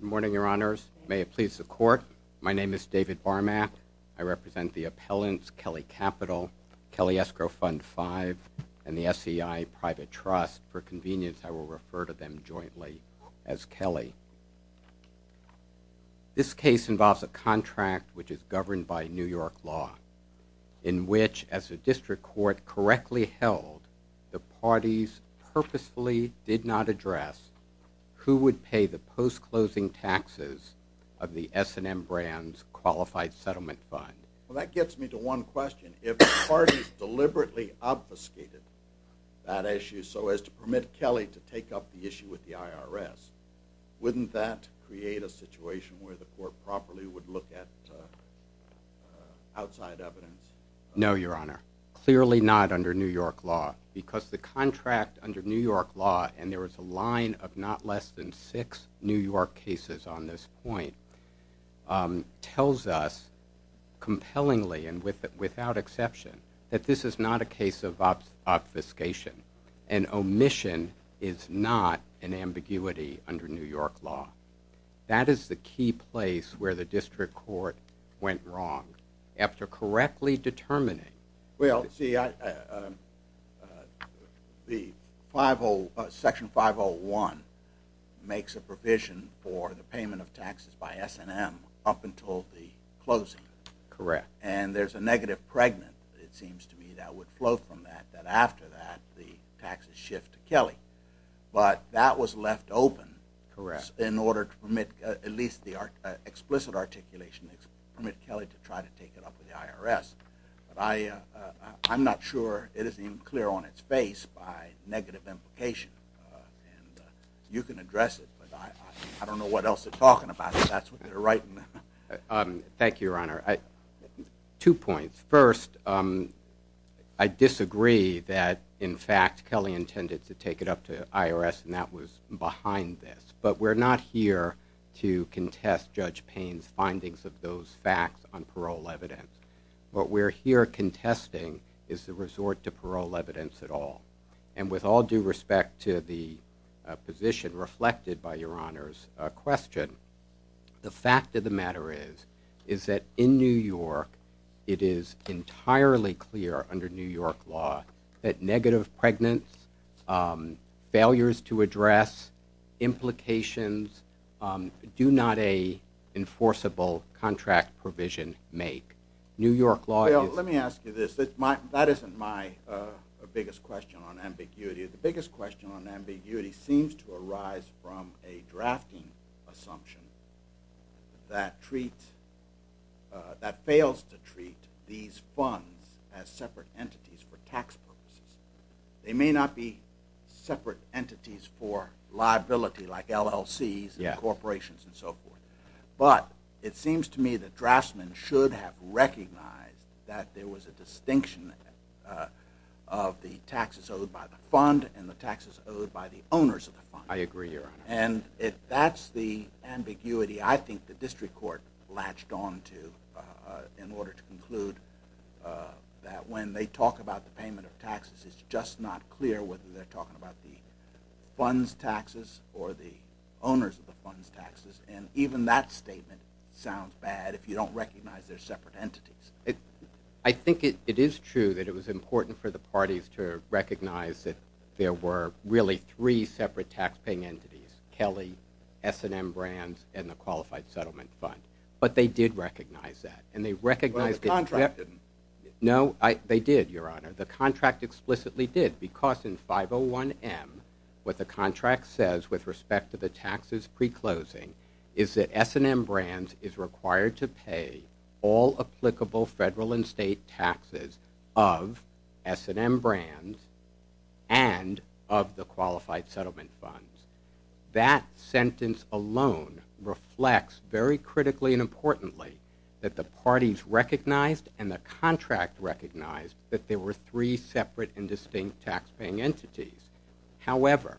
Good morning, Your Honors. May it please the Court, my name is David Barmack. I represent the appellants Kelly Capital, Kelly Escrow Fund 5, and the SEI Private Trust. For convenience, I will refer to them jointly as Kelly. This case involves a contract which is governed by New York law, in which, as the District Court correctly held, the parties purposefully did not address who would pay the post-closing taxes of the S&M Brands Qualified Settlement Fund. Well, that gets me to one question. If the parties deliberately obfuscated that issue so as to permit Kelly to take up the issue with the IRS, wouldn't that create a situation where the Court properly would look at outside evidence? No, Your Honor. Clearly not under New York law. Because the contract under New York law, and there is a line of not less than six New York cases on this point, tells us compellingly and without exception that this is not a case of obfuscation, and omission is not an ambiguity under New York law. That is the key place where the District Court went wrong. After correctly determining... Well, see, Section 501 makes a provision for the payment of taxes by S&M up until the closing. Correct. And there's a negative pregnant, it seems to me, that would flow from that, that after that the taxes shift to Kelly. But that was left open in order to permit, at least the explicit articulation, to permit Kelly to try to take it up with the IRS. But I'm not sure it is even clear on its face by negative implication. And you can address it, but I don't know what else they're talking about, if that's what they're writing. Thank you, Your Honor. Two points. First, I disagree that, in fact, Kelly intended to take it up to the IRS, and that was behind this. But we're not here to contest Judge Payne's findings of those facts on parole evidence. What we're here contesting is the resort to parole evidence at all. And with all due respect to the position reflected by Your Honor's question, the fact of the matter is that in New York it is entirely clear under New York law that negative pregnancy, failures to address implications, do not a enforceable contract provision make. New York law is- Well, let me ask you this. That isn't my biggest question on ambiguity. The biggest question on ambiguity seems to arise from a drafting assumption that fails to treat these funds as separate entities for tax purposes. They may not be separate entities for liability like LLCs and corporations and so forth. But it seems to me that draftsmen should have recognized that there was a distinction of the taxes owed by the fund and the taxes owed by the owners of the fund. I agree, Your Honor. And if that's the ambiguity I think the district court latched on to in order to conclude that when they talk about the payment of taxes it's just not clear whether they're talking about the funds taxes or the owners of the funds taxes. And even that statement sounds bad if you don't recognize they're separate entities. I think it is true that it was important for the parties to recognize that there were really three separate taxpaying entities, Kelly, S&M Brands, and the Qualified Settlement Fund. But they did recognize that. And they recognized- Well, the contract didn't. No, they did, Your Honor. The contract explicitly did because in 501M what the contract says with respect to the taxes pre-closing is that S&M Brands is required to pay all applicable federal and state taxes of S&M Brands and of the Qualified Settlement Fund. That sentence alone reflects very critically and importantly that the parties recognized and the contract recognized that there were three separate and distinct taxpaying entities. However,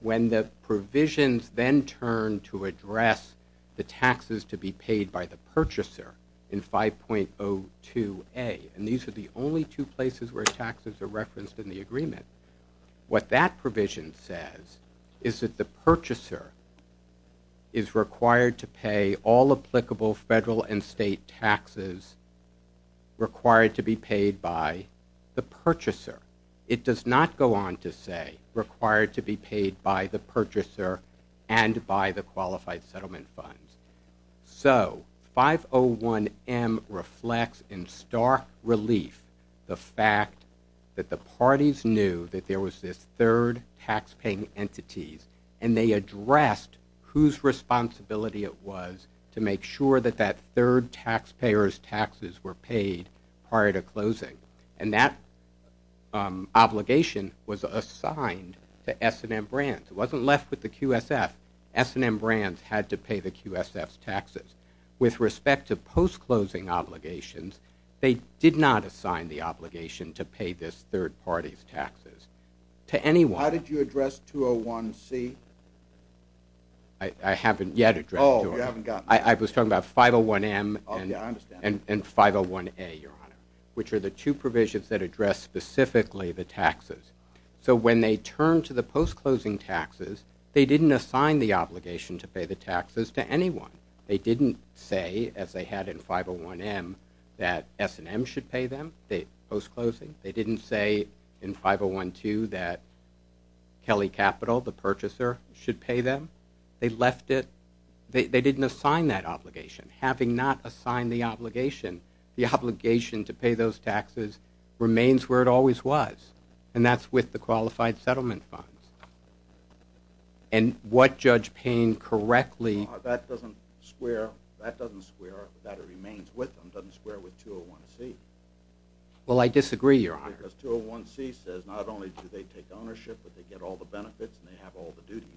when the provisions then turn to address the taxes to be paid by the purchaser in 5.02A, and these are the only two places where taxes are referenced in the agreement, what that provision says is that the purchaser is required to pay all applicable federal and state taxes required to be paid by the purchaser. It does not go on to say required to be paid by the purchaser and by the Qualified Settlement Fund. So 501M reflects in stark relief the fact that the parties knew that there was this third taxpaying entity and they addressed whose responsibility it was to make sure that that third taxpayer's taxes were paid prior to closing. And that obligation was assigned to S&M Brands. It wasn't left with the QSF. S&M Brands had to pay the QSF's taxes. With respect to post-closing obligations, they did not assign the obligation to pay this third party's taxes to anyone. Why did you address 201C? I haven't yet addressed 201C. Oh, you haven't gotten there. I was talking about 501M and 501A, Your Honor, which are the two provisions that address specifically the taxes. So when they turned to the post-closing taxes, they didn't assign the obligation to pay the taxes to anyone. They didn't say, as they had in 501M, that S&M should pay them post-closing. They didn't say in 5012 that Kelly Capital, the purchaser, should pay them. They left it. They didn't assign that obligation. Having not assigned the obligation, the obligation to pay those taxes remains where it always was, and that's with the Qualified Settlement Funds. And what Judge Payne correctly— That doesn't square—that doesn't square—that it remains with them doesn't square with 201C. Well, I disagree, Your Honor. Because 201C says not only do they take ownership, but they get all the benefits and they have all the duties.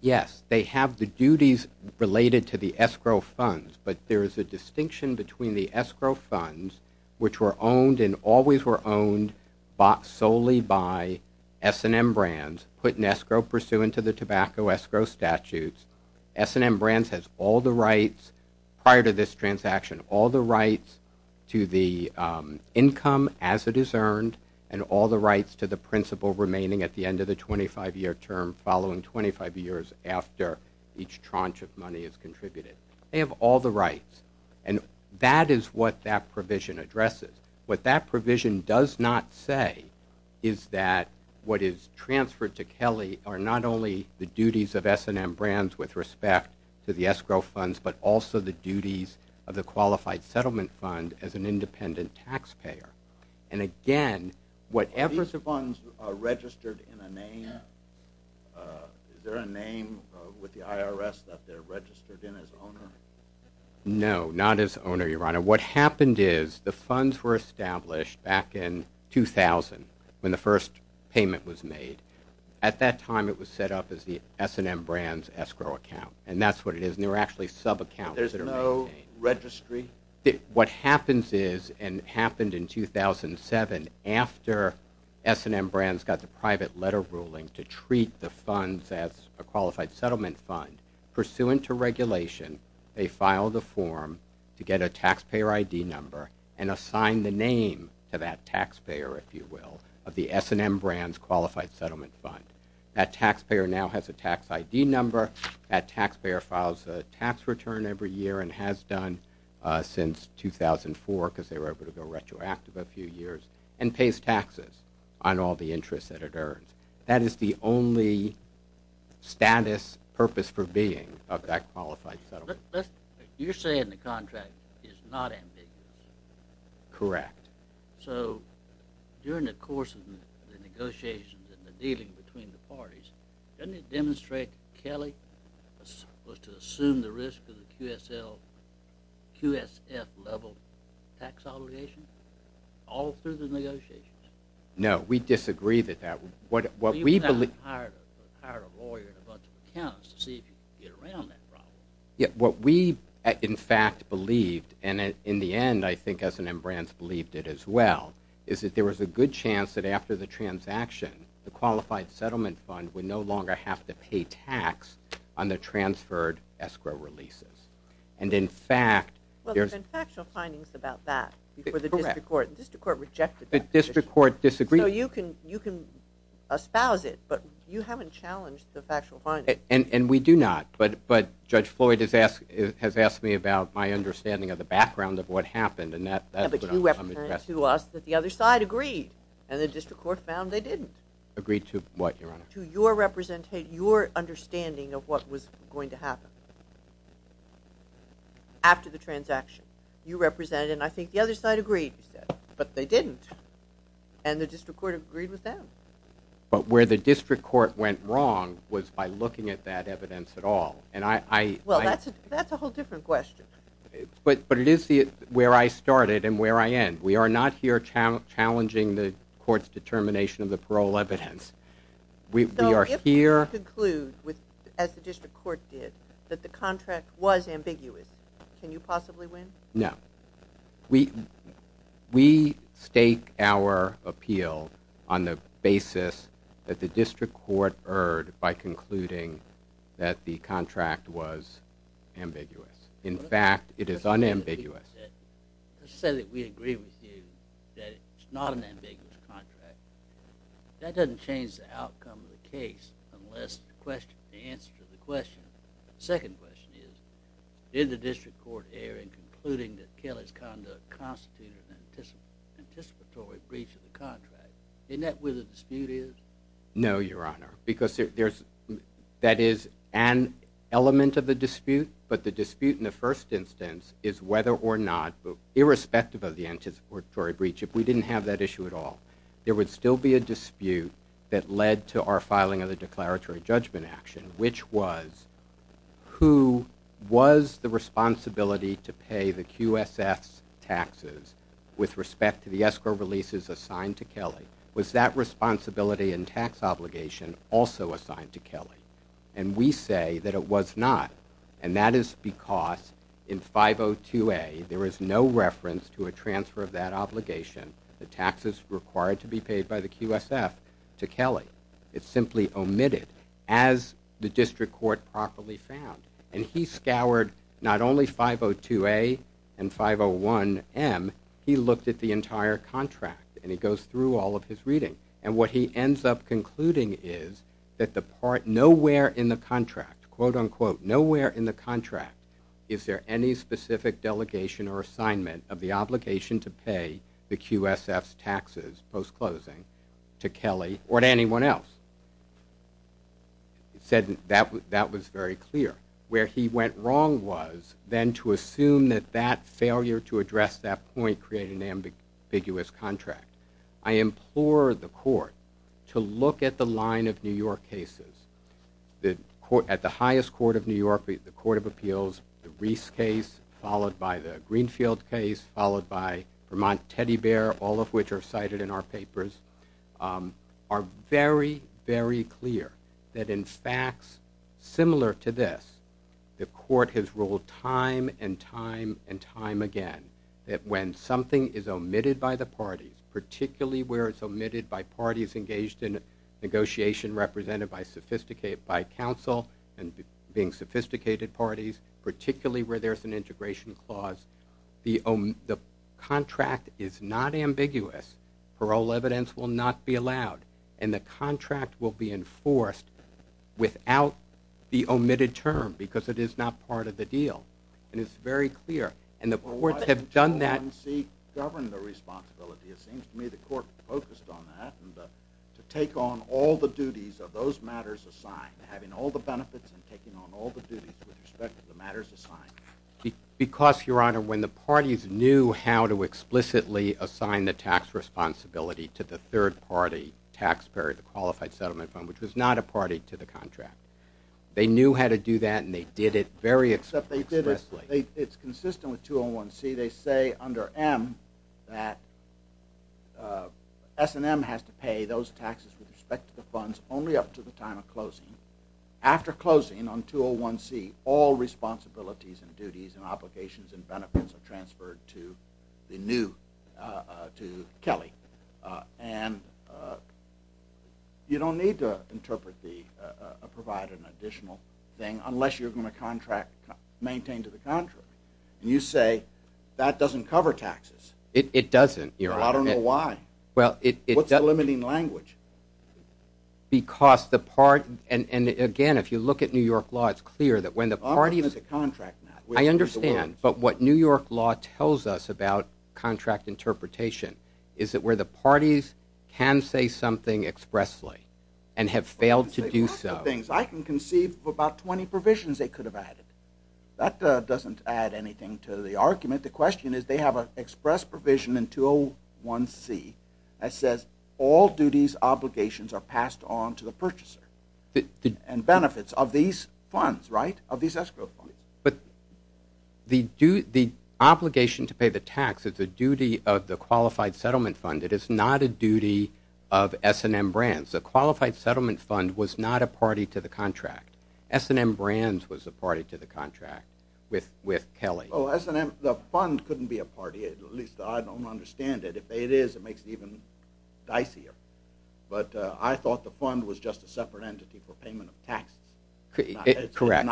Yes, they have the duties related to the escrow funds, but there is a distinction between the escrow funds, which were owned and always were owned, bought solely by S&M Brands, put in escrow pursuant to the tobacco escrow statutes. S&M Brands has all the rights prior to this transaction, all the rights to the income as it is earned, and all the rights to the principal remaining at the end of the 25-year term following 25 years after each tranche of money is contributed. They have all the rights, and that is what that provision addresses. What that provision does not say is that what is transferred to Kelly are not only the duties of S&M Brands with respect to the escrow funds, but also the duties of the Qualified Settlement Fund as an independent taxpayer. And again, whatever – Are these funds registered in a name? Is there a name with the IRS that they're registered in as owner? No, not as owner, Your Honor. What happened is the funds were established back in 2000 when the first payment was made. At that time, it was set up as the S&M Brands escrow account, and that's what it is. And there are actually subaccounts that are maintained. There's no registry? What happens is, and happened in 2007 after S&M Brands got the private letter ruling to treat the funds as a Qualified Settlement Fund, pursuant to regulation, they filed a form to get a taxpayer ID number and assign the name to that taxpayer, if you will, of the S&M Brands Qualified Settlement Fund. That taxpayer now has a tax ID number. That taxpayer files a tax return every year and has done since 2004 because they were able to go retroactive a few years, and pays taxes on all the interest that it earns. That is the only status, purpose for being of that Qualified Settlement Fund. You're saying the contract is not ambiguous? Correct. Doesn't it demonstrate that Kelly was to assume the risk of the QSF level tax obligation all through the negotiations? No, we disagree with that. What we believe— Well, you've got to hire a lawyer and a bunch of accountants to see if you can get around that problem. What we, in fact, believed, and in the end, I think S&M Brands believed it as well, is that there was a good chance that after the transaction, the Qualified Settlement Fund would no longer have to pay tax on the transferred escrow releases. And, in fact— Well, there's been factual findings about that before the district court. Correct. The district court rejected that position. The district court disagreed. So you can espouse it, but you haven't challenged the factual findings. And we do not. But Judge Floyd has asked me about my understanding of the background of what happened, and that's what I'm addressing. And the district court found they didn't. Agreed to what, Your Honor? To your understanding of what was going to happen after the transaction. You represented, and I think the other side agreed, but they didn't. And the district court agreed with them. But where the district court went wrong was by looking at that evidence at all. Well, that's a whole different question. But it is where I started and where I end. We are not here challenging the court's determination of the parole evidence. We are here— So if we conclude, as the district court did, that the contract was ambiguous, can you possibly win? No. We stake our appeal on the basis that the district court erred by concluding that the contract was ambiguous. In fact, it is unambiguous. Let's say that we agree with you that it's not an ambiguous contract. That doesn't change the outcome of the case unless the answer to the question— the second question is, did the district court err in concluding that Kelly's conduct constituted an anticipatory breach of the contract? Isn't that where the dispute is? No, Your Honor, because that is an element of the dispute, but the dispute in the first instance is whether or not, irrespective of the anticipatory breach, if we didn't have that issue at all, there would still be a dispute that led to our filing of the declaratory judgment action, which was, who was the responsibility to pay the QSS taxes with respect to the escrow releases assigned to Kelly? Was that responsibility and tax obligation also assigned to Kelly? And we say that it was not. And that is because in 502A, there is no reference to a transfer of that obligation, the taxes required to be paid by the QSF, to Kelly. It's simply omitted as the district court properly found. And he scoured not only 502A and 501M. He looked at the entire contract, and he goes through all of his reading. And what he ends up concluding is that the part nowhere in the contract, quote, unquote, nowhere in the contract is there any specific delegation or assignment of the obligation to pay the QSF's taxes post-closing to Kelly or to anyone else. He said that was very clear. Where he went wrong was then to assume that that failure to address that point created an ambiguous contract. I implore the court to look at the line of New York cases. At the highest court of New York, the Court of Appeals, the Reese case, followed by the Greenfield case, followed by Vermont Teddy Bear, all of which are cited in our papers, are very, very clear that in facts similar to this, the court has ruled time and time and time again that when something is omitted by the parties, particularly where it's omitted by parties engaged in negotiation represented by counsel and being sophisticated parties, particularly where there's an integration clause, the contract is not ambiguous. Parole evidence will not be allowed. And the contract will be enforced without the omitted term because it is not part of the deal. And it's very clear. And the courts have done that. Why didn't the court in C govern the responsibility? It seems to me the court focused on that and to take on all the duties of those matters assigned, having all the benefits and taking on all the duties with respect to the matters assigned. Because, Your Honor, when the parties knew how to explicitly assign the tax responsibility to the third-party taxpayer, the Qualified Settlement Fund, which was not a party to the contract, they knew how to do that and they did it very expressly. It's consistent with 201C. They say under M that S&M has to pay those taxes with respect to the funds only up to the time of closing. After closing on 201C, all responsibilities and duties and obligations and benefits are transferred to the new, to Kelly. And you don't need to provide an additional thing unless you're going to contract, maintain to the contract. And you say that doesn't cover taxes. It doesn't, Your Honor. I don't know why. Well, it does. What's the limiting language? Because the part, and again, if you look at New York law, it's clear that when the parties... I'm talking about the contract now. I understand. But what New York law tells us about contract interpretation is that where the parties can say something expressly and have failed to do so... I can say a bunch of things. I can conceive of about 20 provisions they could have added. That doesn't add anything to the argument. The question is they have an express provision in 201C that says all duties, obligations are passed on to the purchaser and benefits of these funds, right, of these escrow funds. But the obligation to pay the tax is a duty of the Qualified Settlement Fund. It is not a duty of S&M Brands. The Qualified Settlement Fund was not a party to the contract. S&M Brands was a party to the contract with Kelly. The fund couldn't be a party. At least I don't understand it. If it is, it makes it even dicier. But I thought the fund was just a separate entity for payment of taxes. Correct.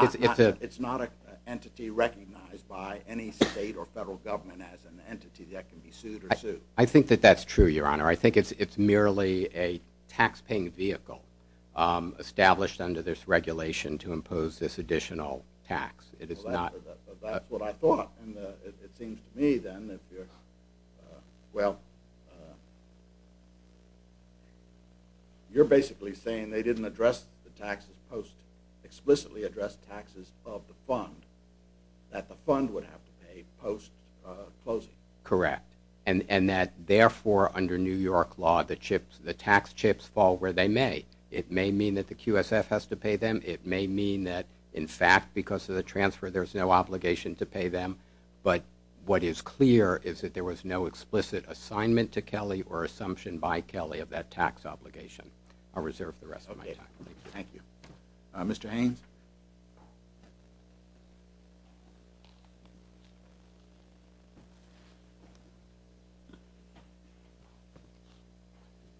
It's not an entity recognized by any state or federal government as an entity that can be sued or sued. I think that that's true, Your Honor. I think it's merely a tax-paying vehicle established under this regulation to impose this additional tax. That's what I thought. And it seems to me, then, that you're, well, you're basically saying they didn't address the taxes post-explicitly addressed taxes of the fund, that the fund would have to pay post-closing. Correct. And that, therefore, under New York law, the tax chips fall where they may. It may mean that the QSF has to pay them. It may mean that, in fact, because of the transfer, there's no obligation to pay them. But what is clear is that there was no explicit assignment to Kelly or assumption by Kelly of that tax obligation. I'll reserve the rest of my time. Thank you. Mr. Haynes?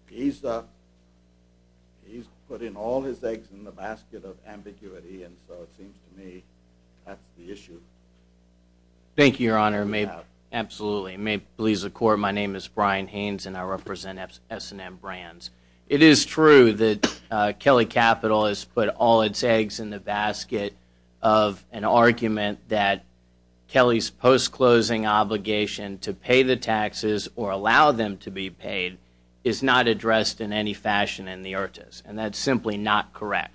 He's put in all his eggs in the basket of ambiguity, and so it seems to me that's the issue. Thank you, Your Honor. Absolutely. May it please the Court, my name is Brian Haynes, and I represent S&M Brands. It is true that Kelly Capital has put all its eggs in the basket of an argument that Kelly's post-closing obligation to pay the taxes or allow them to be paid is not addressed in any fashion in the IRTAs. And that's simply not correct.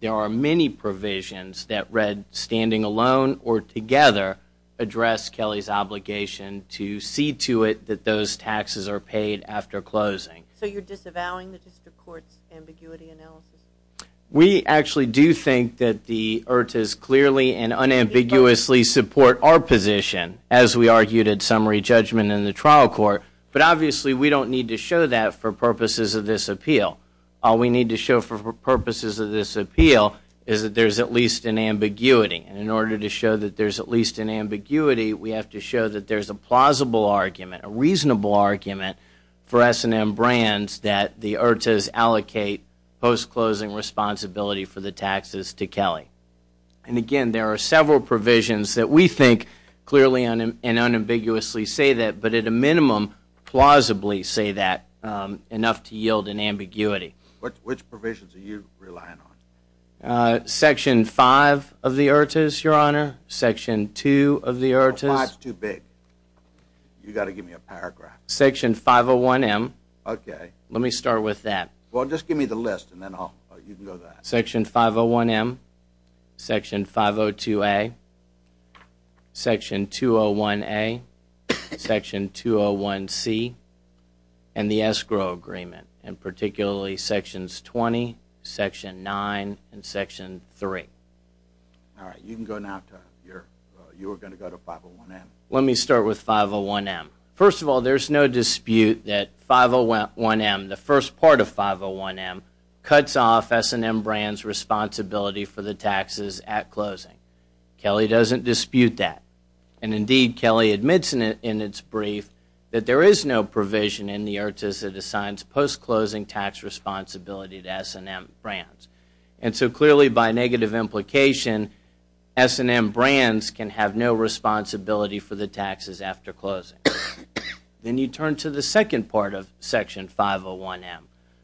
There are many provisions that read, standing alone or together, address Kelly's obligation to see to it that those taxes are paid after closing. So you're disavowing the District Court's ambiguity analysis? We actually do think that the IRTAs clearly and unambiguously support our position, as we argued in summary judgment in the trial court, but obviously we don't need to show that for purposes of this appeal. All we need to show for purposes of this appeal is that there's at least an ambiguity. And in order to show that there's at least an ambiguity, we have to show that there's a plausible argument, a reasonable argument, for S&M Brands that the IRTAs allocate post-closing responsibility for the taxes to Kelly. And again, there are several provisions that we think clearly and unambiguously say that, but at a minimum plausibly say that enough to yield an ambiguity. Which provisions are you relying on? Section 5 of the IRTAs, Your Honor. Section 2 of the IRTAs. 5 is too big. You've got to give me a paragraph. Section 501M. Okay. Let me start with that. Well, just give me the list and then you can go to that. Section 501M, section 502A, section 201A, section 201C, and the escrow agreement, and particularly sections 20, section 9, and section 3. All right. You can go now, Tom. You were going to go to 501M. Let me start with 501M. First of all, there's no dispute that 501M, the first part of 501M, cuts off S&M Brands' responsibility for the taxes at closing. Kelly doesn't dispute that. Indeed, Kelly admits in its brief that there is no provision in the IRTAs that assigns post-closing tax responsibility to S&M Brands. So clearly by negative implication, S&M Brands can have no responsibility for the taxes after closing. Then you turn to the second part of section 501M,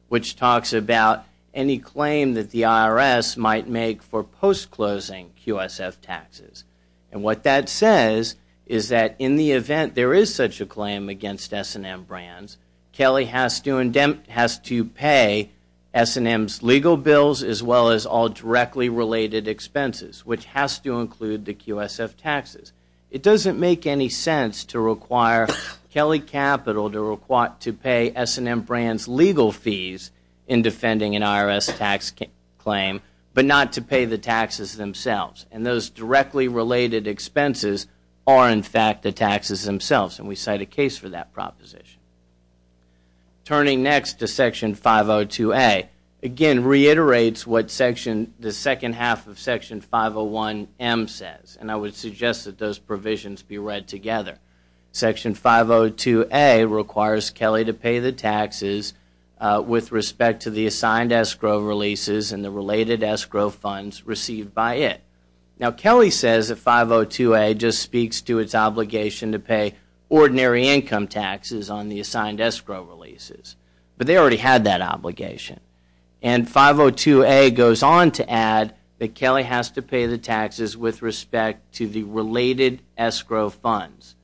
which talks about any claim that the IRS might make for post-closing QSF taxes. And what that says is that in the event there is such a claim against S&M Brands, Kelly has to pay S&M's legal bills as well as all directly related expenses, which has to include the QSF taxes. It doesn't make any sense to require Kelly Capital to pay S&M Brands' legal fees in defending an IRS tax claim, but not to pay the taxes themselves. And those directly related expenses are in fact the taxes themselves, and we cite a case for that proposition. Turning next to section 502A, again reiterates what the second half of section 501M says, and I would suggest that those provisions be read together. Section 502A requires Kelly to pay the taxes with respect to the assigned escrow releases and the related escrow funds received by it. Now Kelly says that 502A just speaks to its obligation to pay ordinary income taxes on the assigned escrow releases, but they already had that obligation. And 502A goes on to add that Kelly has to pay the taxes with respect to the related escrow funds,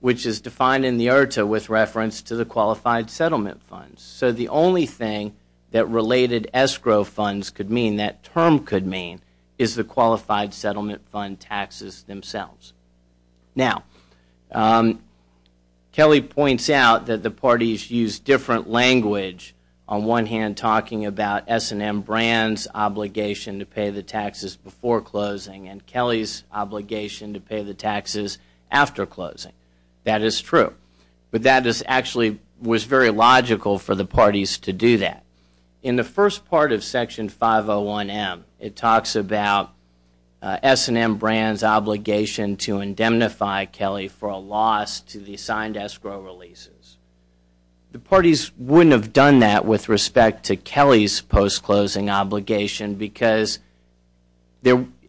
which is defined in the IRTA with reference to the qualified settlement funds. So the only thing that related escrow funds could mean, that term could mean, is the qualified settlement fund taxes themselves. Now Kelly points out that the parties use different language, on one hand talking about S&M Brands' obligation to pay the taxes before closing and Kelly's obligation to pay the taxes after closing. That is true, but that actually was very logical for the parties to do that. In the first part of section 501M, it talks about S&M Brands' obligation to indemnify Kelly for a loss to the assigned escrow releases. The parties wouldn't have done that with respect to Kelly's post-closing obligation because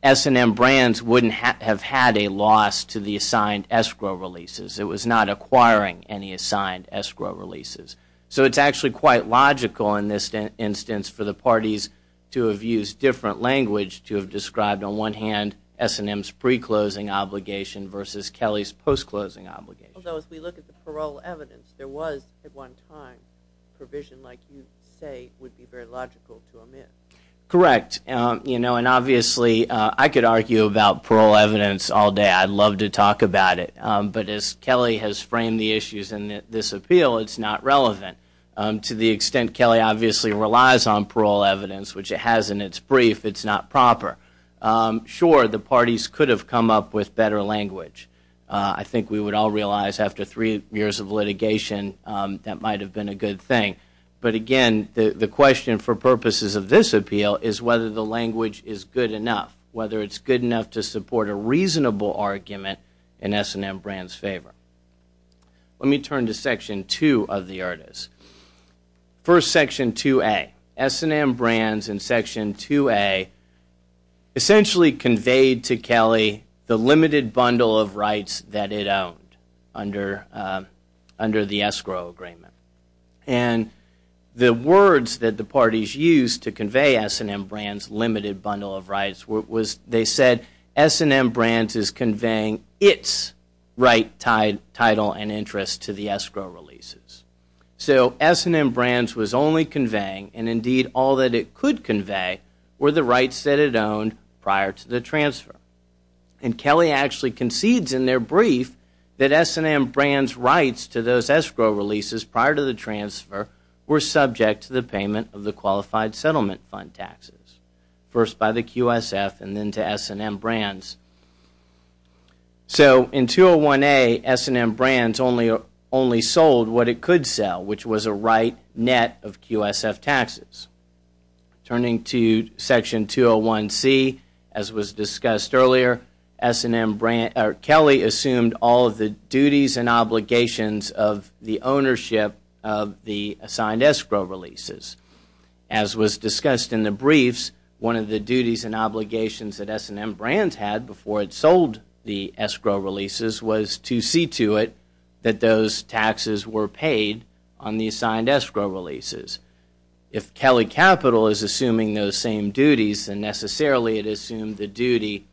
S&M Brands wouldn't have had a loss to the assigned escrow releases. It was not acquiring any assigned escrow releases. So it's actually quite logical in this instance for the parties to have used different language to have described on one hand S&M's pre-closing obligation versus Kelly's post-closing obligation. Although if we look at the parole evidence, there was, at one time, a provision like you say would be very logical to omit. Correct, and obviously I could argue about parole evidence all day. I'd love to talk about it, but as Kelly has framed the issues in this appeal, it's not relevant to the extent Kelly obviously relies on parole evidence, which it has in its brief. It's not proper. Sure, the parties could have come up with better language. I think we would all realize after three years of litigation that might have been a good thing. But again, the question for purposes of this appeal is whether the language is good enough, whether it's good enough to support a reasonable argument in S&M Brands' favor. Let me turn to Section 2 of the ERDAs. First, Section 2A. S&M Brands in Section 2A essentially conveyed to Kelly the limited bundle of rights that it owned under the escrow agreement. And the words that the parties used to convey S&M Brands' limited bundle of rights, they said S&M Brands is conveying its right title and interest to the escrow releases. So S&M Brands was only conveying, and indeed all that it could convey, were the rights that it owned prior to the transfer. And Kelly actually concedes in their brief that S&M Brands' rights to those escrow releases prior to the transfer were subject to the payment of the Qualified Settlement Fund taxes, first by the QSF and then to S&M Brands. So in 201A, S&M Brands only sold what it could sell, which was a right net of QSF taxes. Turning to Section 201C, as was discussed earlier, Kelly assumed all of the duties and obligations of the ownership of the assigned escrow releases. As was discussed in the briefs, one of the duties and obligations that S&M Brands had before it sold the escrow releases was to see to it that those taxes were paid on the assigned escrow releases. If Kelly Capital is assuming those same duties, then necessarily it assumed the duty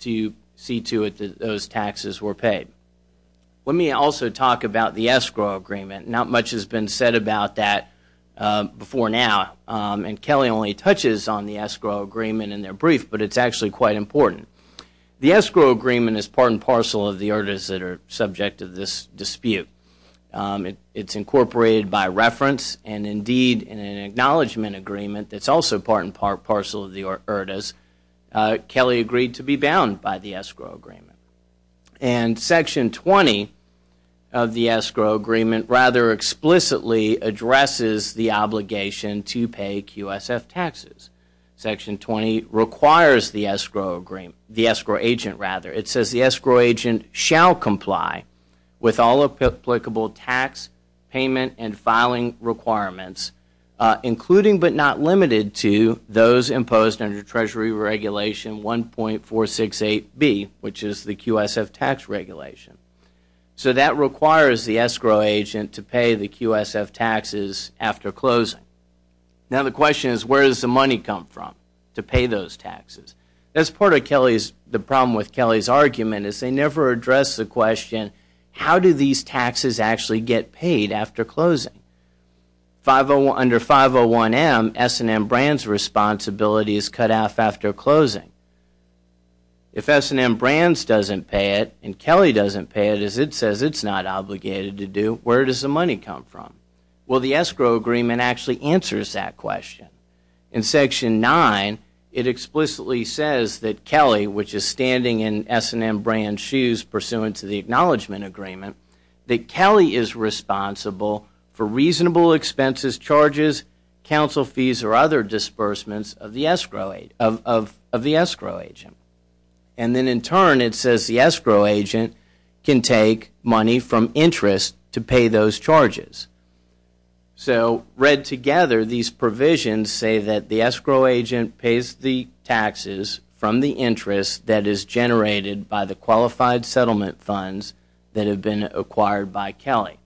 to see to it that those taxes were paid. Let me also talk about the escrow agreement. Not much has been said about that before now, and Kelly only touches on the escrow agreement in their brief, but it's actually quite important. The escrow agreement is part and parcel of the ERDAs that are subject to this dispute. It's incorporated by reference, and indeed, in an acknowledgment agreement that's also part and parcel of the ERDAs, Kelly agreed to be bound by the escrow agreement. And Section 20 of the escrow agreement rather explicitly addresses the obligation to pay QSF taxes. Section 20 requires the escrow agent. It says the escrow agent shall comply with all applicable tax, payment, and filing requirements, including but not limited to those imposed under Treasury Regulation 1.468B, which is the QSF tax regulation. So that requires the escrow agent to pay the QSF taxes after closing. Now the question is, where does the money come from to pay those taxes? That's part of the problem with Kelly's argument is they never address the question, how do these taxes actually get paid after closing? Under 501M, S&M Brands responsibility is cut off after closing. If S&M Brands doesn't pay it and Kelly doesn't pay it, as it says it's not obligated to do, where does the money come from? Well, the escrow agreement actually answers that question. In Section 9, it explicitly says that Kelly, which is standing in S&M Brands' shoes pursuant to the acknowledgment agreement, that Kelly is responsible for reasonable expenses, charges, council fees, or other disbursements of the escrow agent. And then in turn, it says the escrow agent can take money from interest to pay those charges. So read together, these provisions say that the escrow agent pays the taxes from the interest that is generated by the qualified settlement funds that have been acquired by Kelly.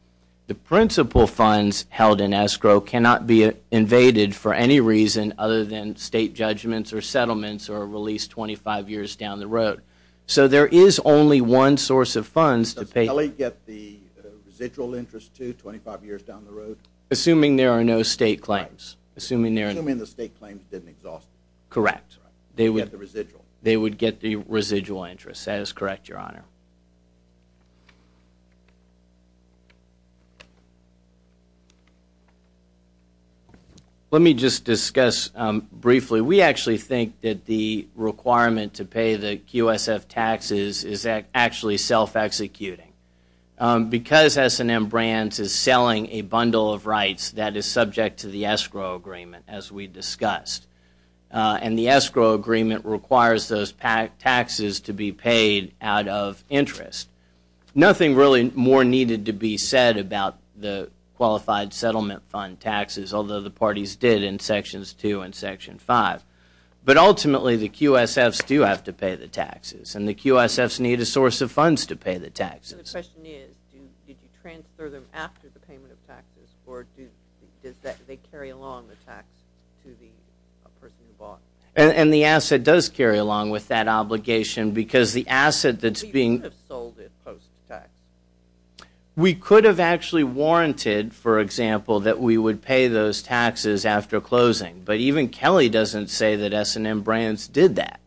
The principal funds held in escrow cannot be invaded for any reason other than state judgments or settlements are released 25 years down the road. So there is only one source of funds to pay. Does Kelly get the residual interest too, 25 years down the road? Assuming there are no state claims. Assuming the state claims didn't exhaust it. Correct. They would get the residual. They would get the residual interest. That is correct, Your Honor. Let me just discuss briefly. We actually think that the requirement to pay the QSF taxes is actually self-executing. Because S&M Brands is selling a bundle of rights that is subject to the escrow agreement, as we discussed, and the escrow agreement requires those taxes to be paid out of interest. Nothing really more needed to be said about the qualified settlement fund taxes, although the parties did in Sections 2 and Section 5. But ultimately, the QSFs do have to pay the taxes, and the QSFs need a source of funds to pay the taxes. The question is, did you transfer them after the payment of taxes, or do they carry along the tax to the person who bought it? And the asset does carry along with that obligation because the asset that is being We could have sold it post-tax. We could have actually warranted, for example, that we would pay those taxes after closing. But even Kelly doesn't say that S&M Brands did that.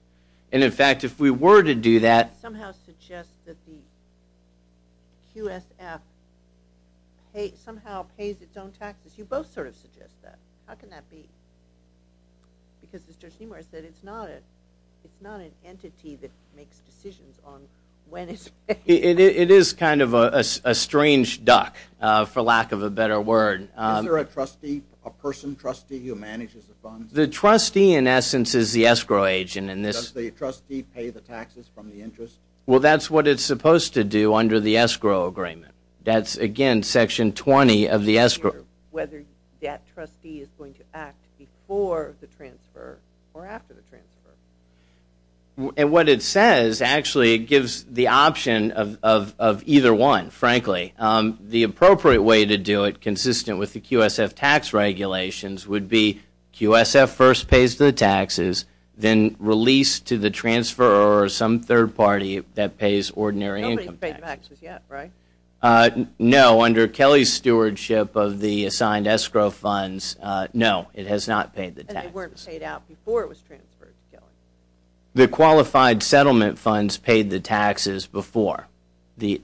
And, in fact, if we were to do that It somehow suggests that the QSF somehow pays its own taxes. You both sort of suggest that. How can that be? Because as Judge Nemar said, it's not an entity that makes decisions on when it's paid. It is kind of a strange duck, for lack of a better word. Is there a trustee, a person trustee who manages the funds? The trustee, in essence, is the escrow agent. Does the trustee pay the taxes from the interest? Well, that's what it's supposed to do under the escrow agreement. That's, again, Section 20 of the escrow. Whether that trustee is going to act before the transfer or after the transfer. And what it says, actually, it gives the option of either one, frankly. The appropriate way to do it, consistent with the QSF tax regulations, would be QSF first pays the taxes, then release to the transferor or some third party that pays ordinary income taxes. Nobody's paid taxes yet, right? No, under Kelly's stewardship of the assigned escrow funds, no, it has not paid the taxes. And they weren't paid out before it was transferred to Kelly? The qualified settlement funds paid the taxes before the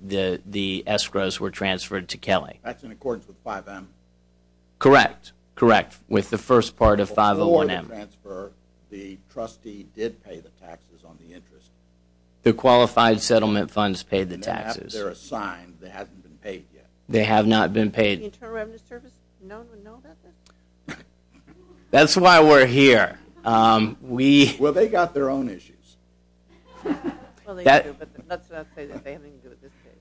escrows were transferred to Kelly. That's in accordance with 5M? Correct, correct, with the first part of 501M. Before the transfer, the trustee did pay the taxes on the interest? The qualified settlement funds paid the taxes. After they're assigned, they haven't been paid yet? They have not been paid. Internal Revenue Service, no one would know about this? That's why we're here. Well, they've got their own issues.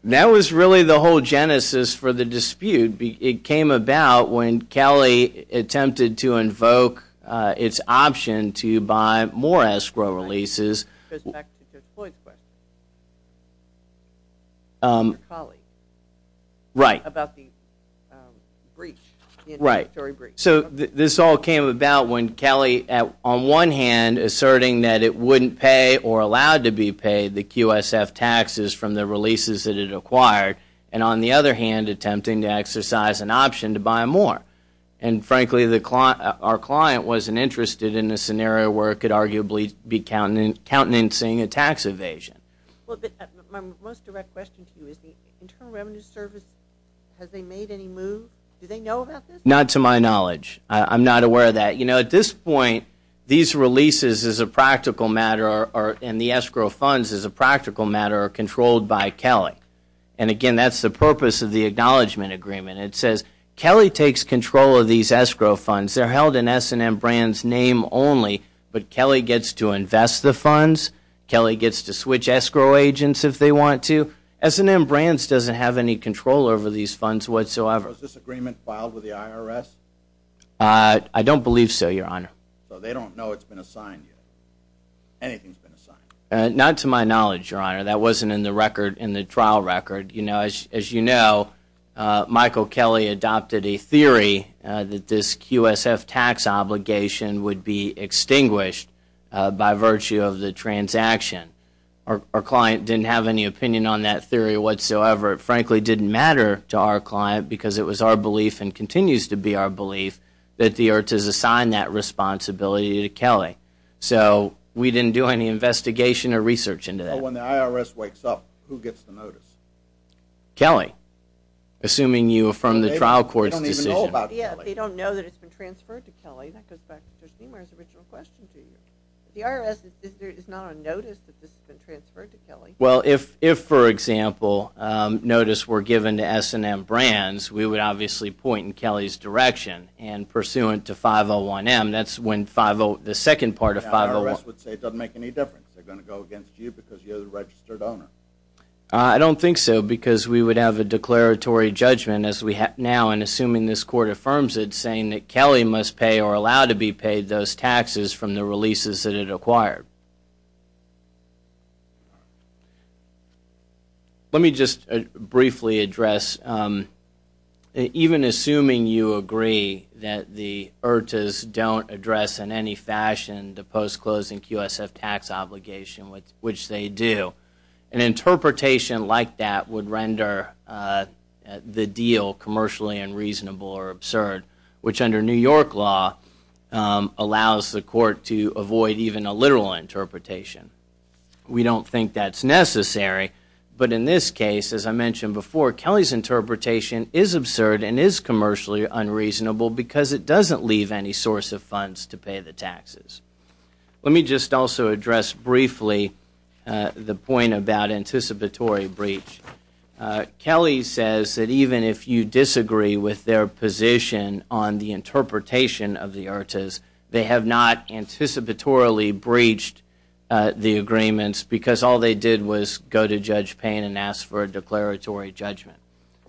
That was really the whole genesis for the dispute. It came about when Kelly attempted to invoke its option to buy more escrow releases. It goes back to Judge Floyd's question about the breach, the inventory breach. So this all came about when Kelly, on one hand, asserting that it wouldn't pay or allowed to be paid the QSF taxes from the releases that it acquired, and on the other hand attempting to exercise an option to buy more. And frankly, our client wasn't interested in a scenario where it could arguably be countenancing a tax evasion. My most direct question to you is the Internal Revenue Service, has they made any move? Do they know about this? Not to my knowledge. I'm not aware of that. You know, at this point, these releases as a practical matter and the escrow funds as a practical matter are controlled by Kelly. And again, that's the purpose of the Acknowledgement Agreement. It says Kelly takes control of these escrow funds. They're held in S&M Brands' name only, but Kelly gets to invest the funds. Kelly gets to switch escrow agents if they want to. S&M Brands doesn't have any control over these funds whatsoever. Was this agreement filed with the IRS? I don't believe so, Your Honor. So they don't know it's been assigned yet? Anything's been assigned? Not to my knowledge, Your Honor. That wasn't in the record, in the trial record. As you know, Michael Kelly adopted a theory that this QSF tax obligation would be extinguished by virtue of the transaction. Our client didn't have any opinion on that theory whatsoever. It frankly didn't matter to our client because it was our belief and continues to be our belief that the IRTS has assigned that responsibility to Kelly. So we didn't do any investigation or research into that. So when the IRS wakes up, who gets the notice? Kelly. Assuming you affirm the trial court's decision. They don't even know about Kelly. Yeah, they don't know that it's been transferred to Kelly. That goes back to Judge Niemeyer's original question to you. The IRS is not on notice that this has been transferred to Kelly. Well, if, for example, notice were given to S&M Brands, we would obviously point in Kelly's direction. And pursuant to 501M, that's when the second part of 501 The IRS would say it doesn't make any difference. They're going to go against you because you're the registered owner. I don't think so because we would have a declaratory judgment as we have now, and assuming this court affirms it, saying that Kelly must pay or allow to be paid those taxes from the releases that it acquired. Let me just briefly address, even assuming you agree that the IRTSs don't address in any fashion the post-closing QSF tax obligation, which they do, an interpretation like that would render the deal commercially unreasonable or absurd, which under New York law allows the court to avoid even a literal interpretation. We don't think that's necessary, but in this case, as I mentioned before, Kelly's interpretation is absurd and is commercially unreasonable because it doesn't leave any source of funds to pay the taxes. Let me just also address briefly the point about anticipatory breach. Kelly says that even if you disagree with their position on the interpretation of the IRTSs, they have not anticipatorily breached the agreements because all they did was go to Judge Payne and ask for a declaratory judgment.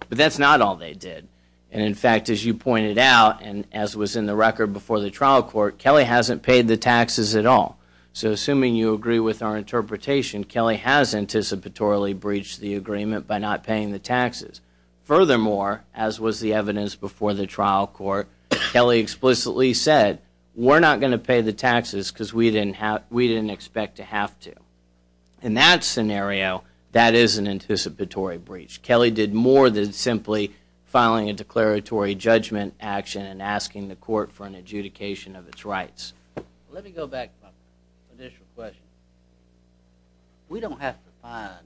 But that's not all they did. In fact, as you pointed out, and as was in the record before the trial court, Kelly hasn't paid the taxes at all. So assuming you agree with our interpretation, Kelly has anticipatorily breached the agreement by not paying the taxes. Furthermore, as was the evidence before the trial court, Kelly explicitly said, we're not going to pay the taxes because we didn't expect to have to. In that scenario, that is an anticipatory breach. Kelly did more than simply filing a declaratory judgment action and asking the court for an adjudication of its rights. Let me go back to my initial question. We don't have to find,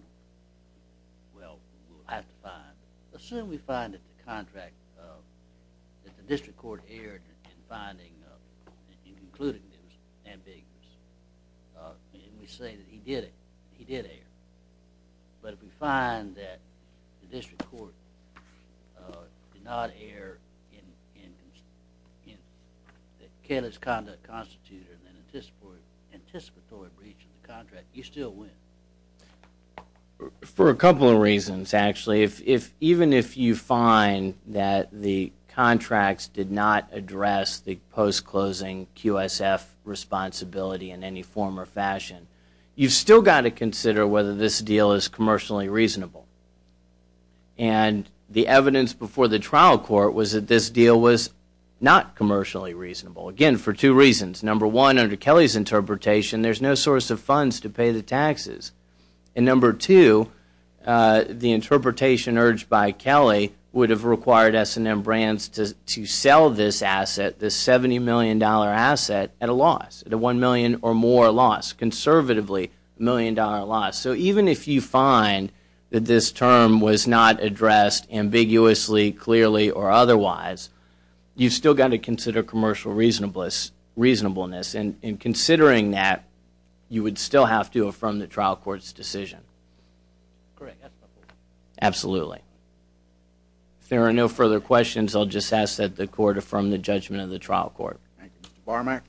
well, we'll have to find, assume we find that the contract, that the district court erred in finding, in concluding it was ambiguous. And we say that he did it, he did err. But if we find that the district court did not err in that Kelly's conduct constituted an anticipatory breach of the contract, you still win. For a couple of reasons, actually. Even if you find that the contracts did not address the post-closing QSF responsibility in any form or fashion, you've still got to consider whether this deal is commercially reasonable. And the evidence before the trial court was that this deal was not commercially reasonable. Again, for two reasons. Number one, under Kelly's interpretation, there's no source of funds to pay the taxes. And number two, the interpretation urged by Kelly would have required S&M Brands to sell this asset, this $70 million asset, at a loss. At a $1 million or more loss. Conservatively, a $1 million loss. So even if you find that this term was not addressed ambiguously, clearly, or otherwise, you've still got to consider commercial reasonableness. And in considering that, you would still have to affirm the trial court's decision. Correct. Absolutely. If there are no further questions, I'll just ask that the court affirm the judgment of the trial court. Thank you. Mr. Bormack.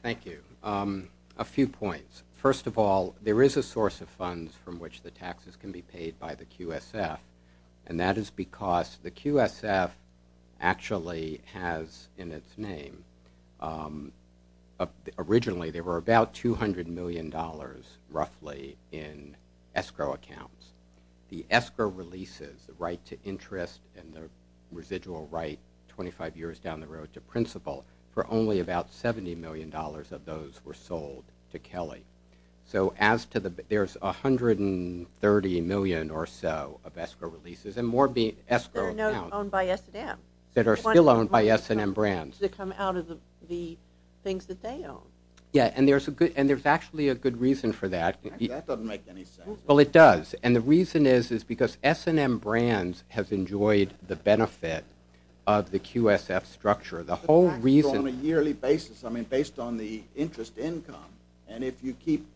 Thank you. A few points. First of all, there is a source of funds from which the taxes can be paid by the QSF. And that is because the QSF actually has in its name, originally there were about $200 million roughly in escrow accounts. The escrow releases, the right to interest, and the residual right 25 years down the road to principal, for only about $70 million of those were sold to Kelly. So there's $130 million or so of escrow releases, and more being escrow accounts. They're not owned by S&M. That are still owned by S&M Brands. They come out of the things that they own. Yeah, and there's actually a good reason for that. That doesn't make any sense. Well, it does. And the reason is, is because S&M Brands has enjoyed the benefit of the QSF structure. The whole reason. On a yearly basis, I mean, based on the interest income. And if you keep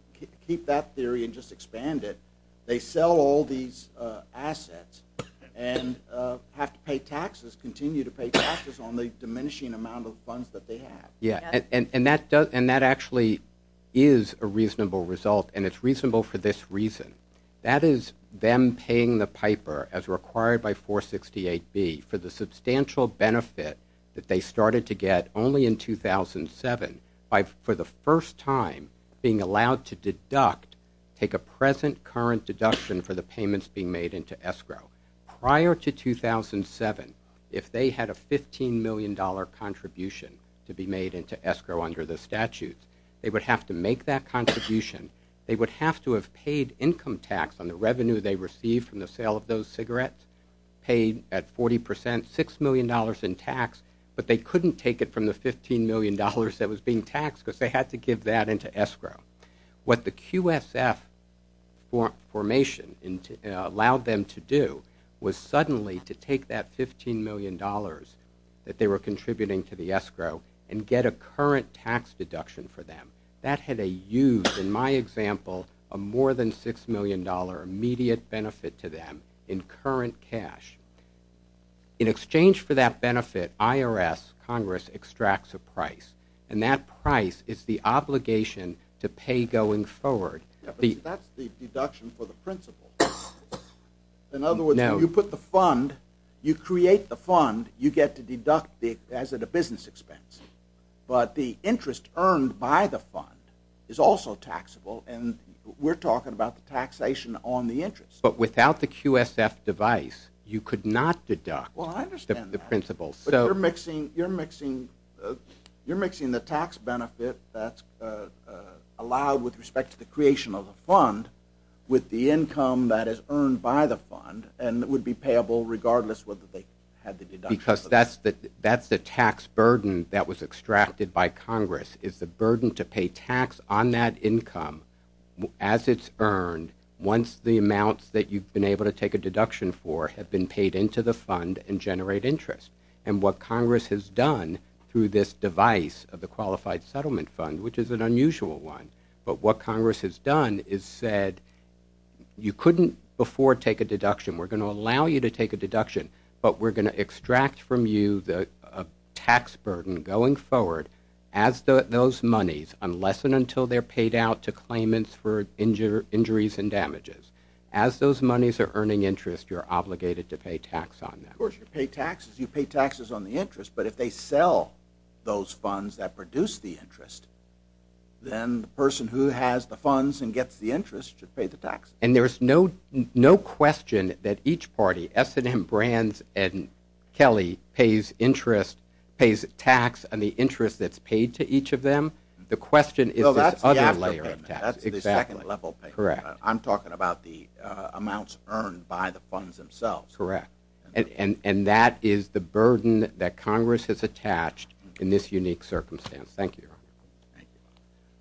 that theory and just expand it, they sell all these assets and have to pay taxes, continue to pay taxes on the diminishing amount of funds that they have. Yeah, and that actually is a reasonable result. And it's reasonable for this reason. That is them paying the piper, as required by 468B, for the substantial benefit that they started to get only in 2007. For the first time, being allowed to deduct, take a present current deduction for the payments being made into escrow. Prior to 2007, if they had a $15 million contribution to be made into escrow under the statute, they would have to make that contribution. They would have to have paid income tax on the revenue they received from the sale of those cigarettes, paid at 40%, $6 million in tax, but they couldn't take it from the $15 million that was being taxed because they had to give that into escrow. What the QSF formation allowed them to do was suddenly to take that $15 million that they were contributing to the escrow and get a current tax deduction for them. That had a huge, in my example, a more than $6 million immediate benefit to them in current cash. In exchange for that benefit, IRS, Congress, extracts a price. And that price is the obligation to pay going forward. But that's the deduction for the principal. In other words, you put the fund, you create the fund, you get to deduct as a business expense. But the interest earned by the fund is also taxable, and we're talking about the taxation on the interest. But without the QSF device, you could not deduct the principal. You're mixing the tax benefit that's allowed with respect to the creation of the fund with the income that is earned by the fund, and it would be payable regardless whether they had the deduction. Because that's the tax burden that was extracted by Congress, is the burden to pay tax on that income as it's earned once the amounts that you've been able to take a deduction for have been paid into the fund and generate interest. And what Congress has done through this device of the Qualified Settlement Fund, which is an unusual one, but what Congress has done is said you couldn't before take a deduction. We're going to allow you to take a deduction, but we're going to extract from you the tax burden going forward as those monies, unless and until they're paid out to claimants for injuries and damages. As those monies are earning interest, you're obligated to pay tax on them. Of course, you pay taxes. You pay taxes on the interest. But if they sell those funds that produce the interest, then the person who has the funds and gets the interest should pay the tax. And there's no question that each party, S&M, Brands, and Kelly, pays interest, pays tax on the interest that's paid to each of them. The question is this other layer of tax. That's the second level payment. Correct. I'm talking about the amounts earned by the funds themselves. Correct. And that is the burden that Congress has attached in this unique circumstance. Thank you, Your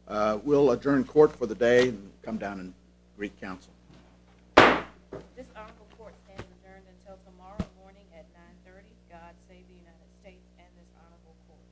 Honor. Thank you. We'll adjourn court for the day and come down and re-counsel. This honorable court stands adjourned until tomorrow morning at 930. God save the United States and this honorable court.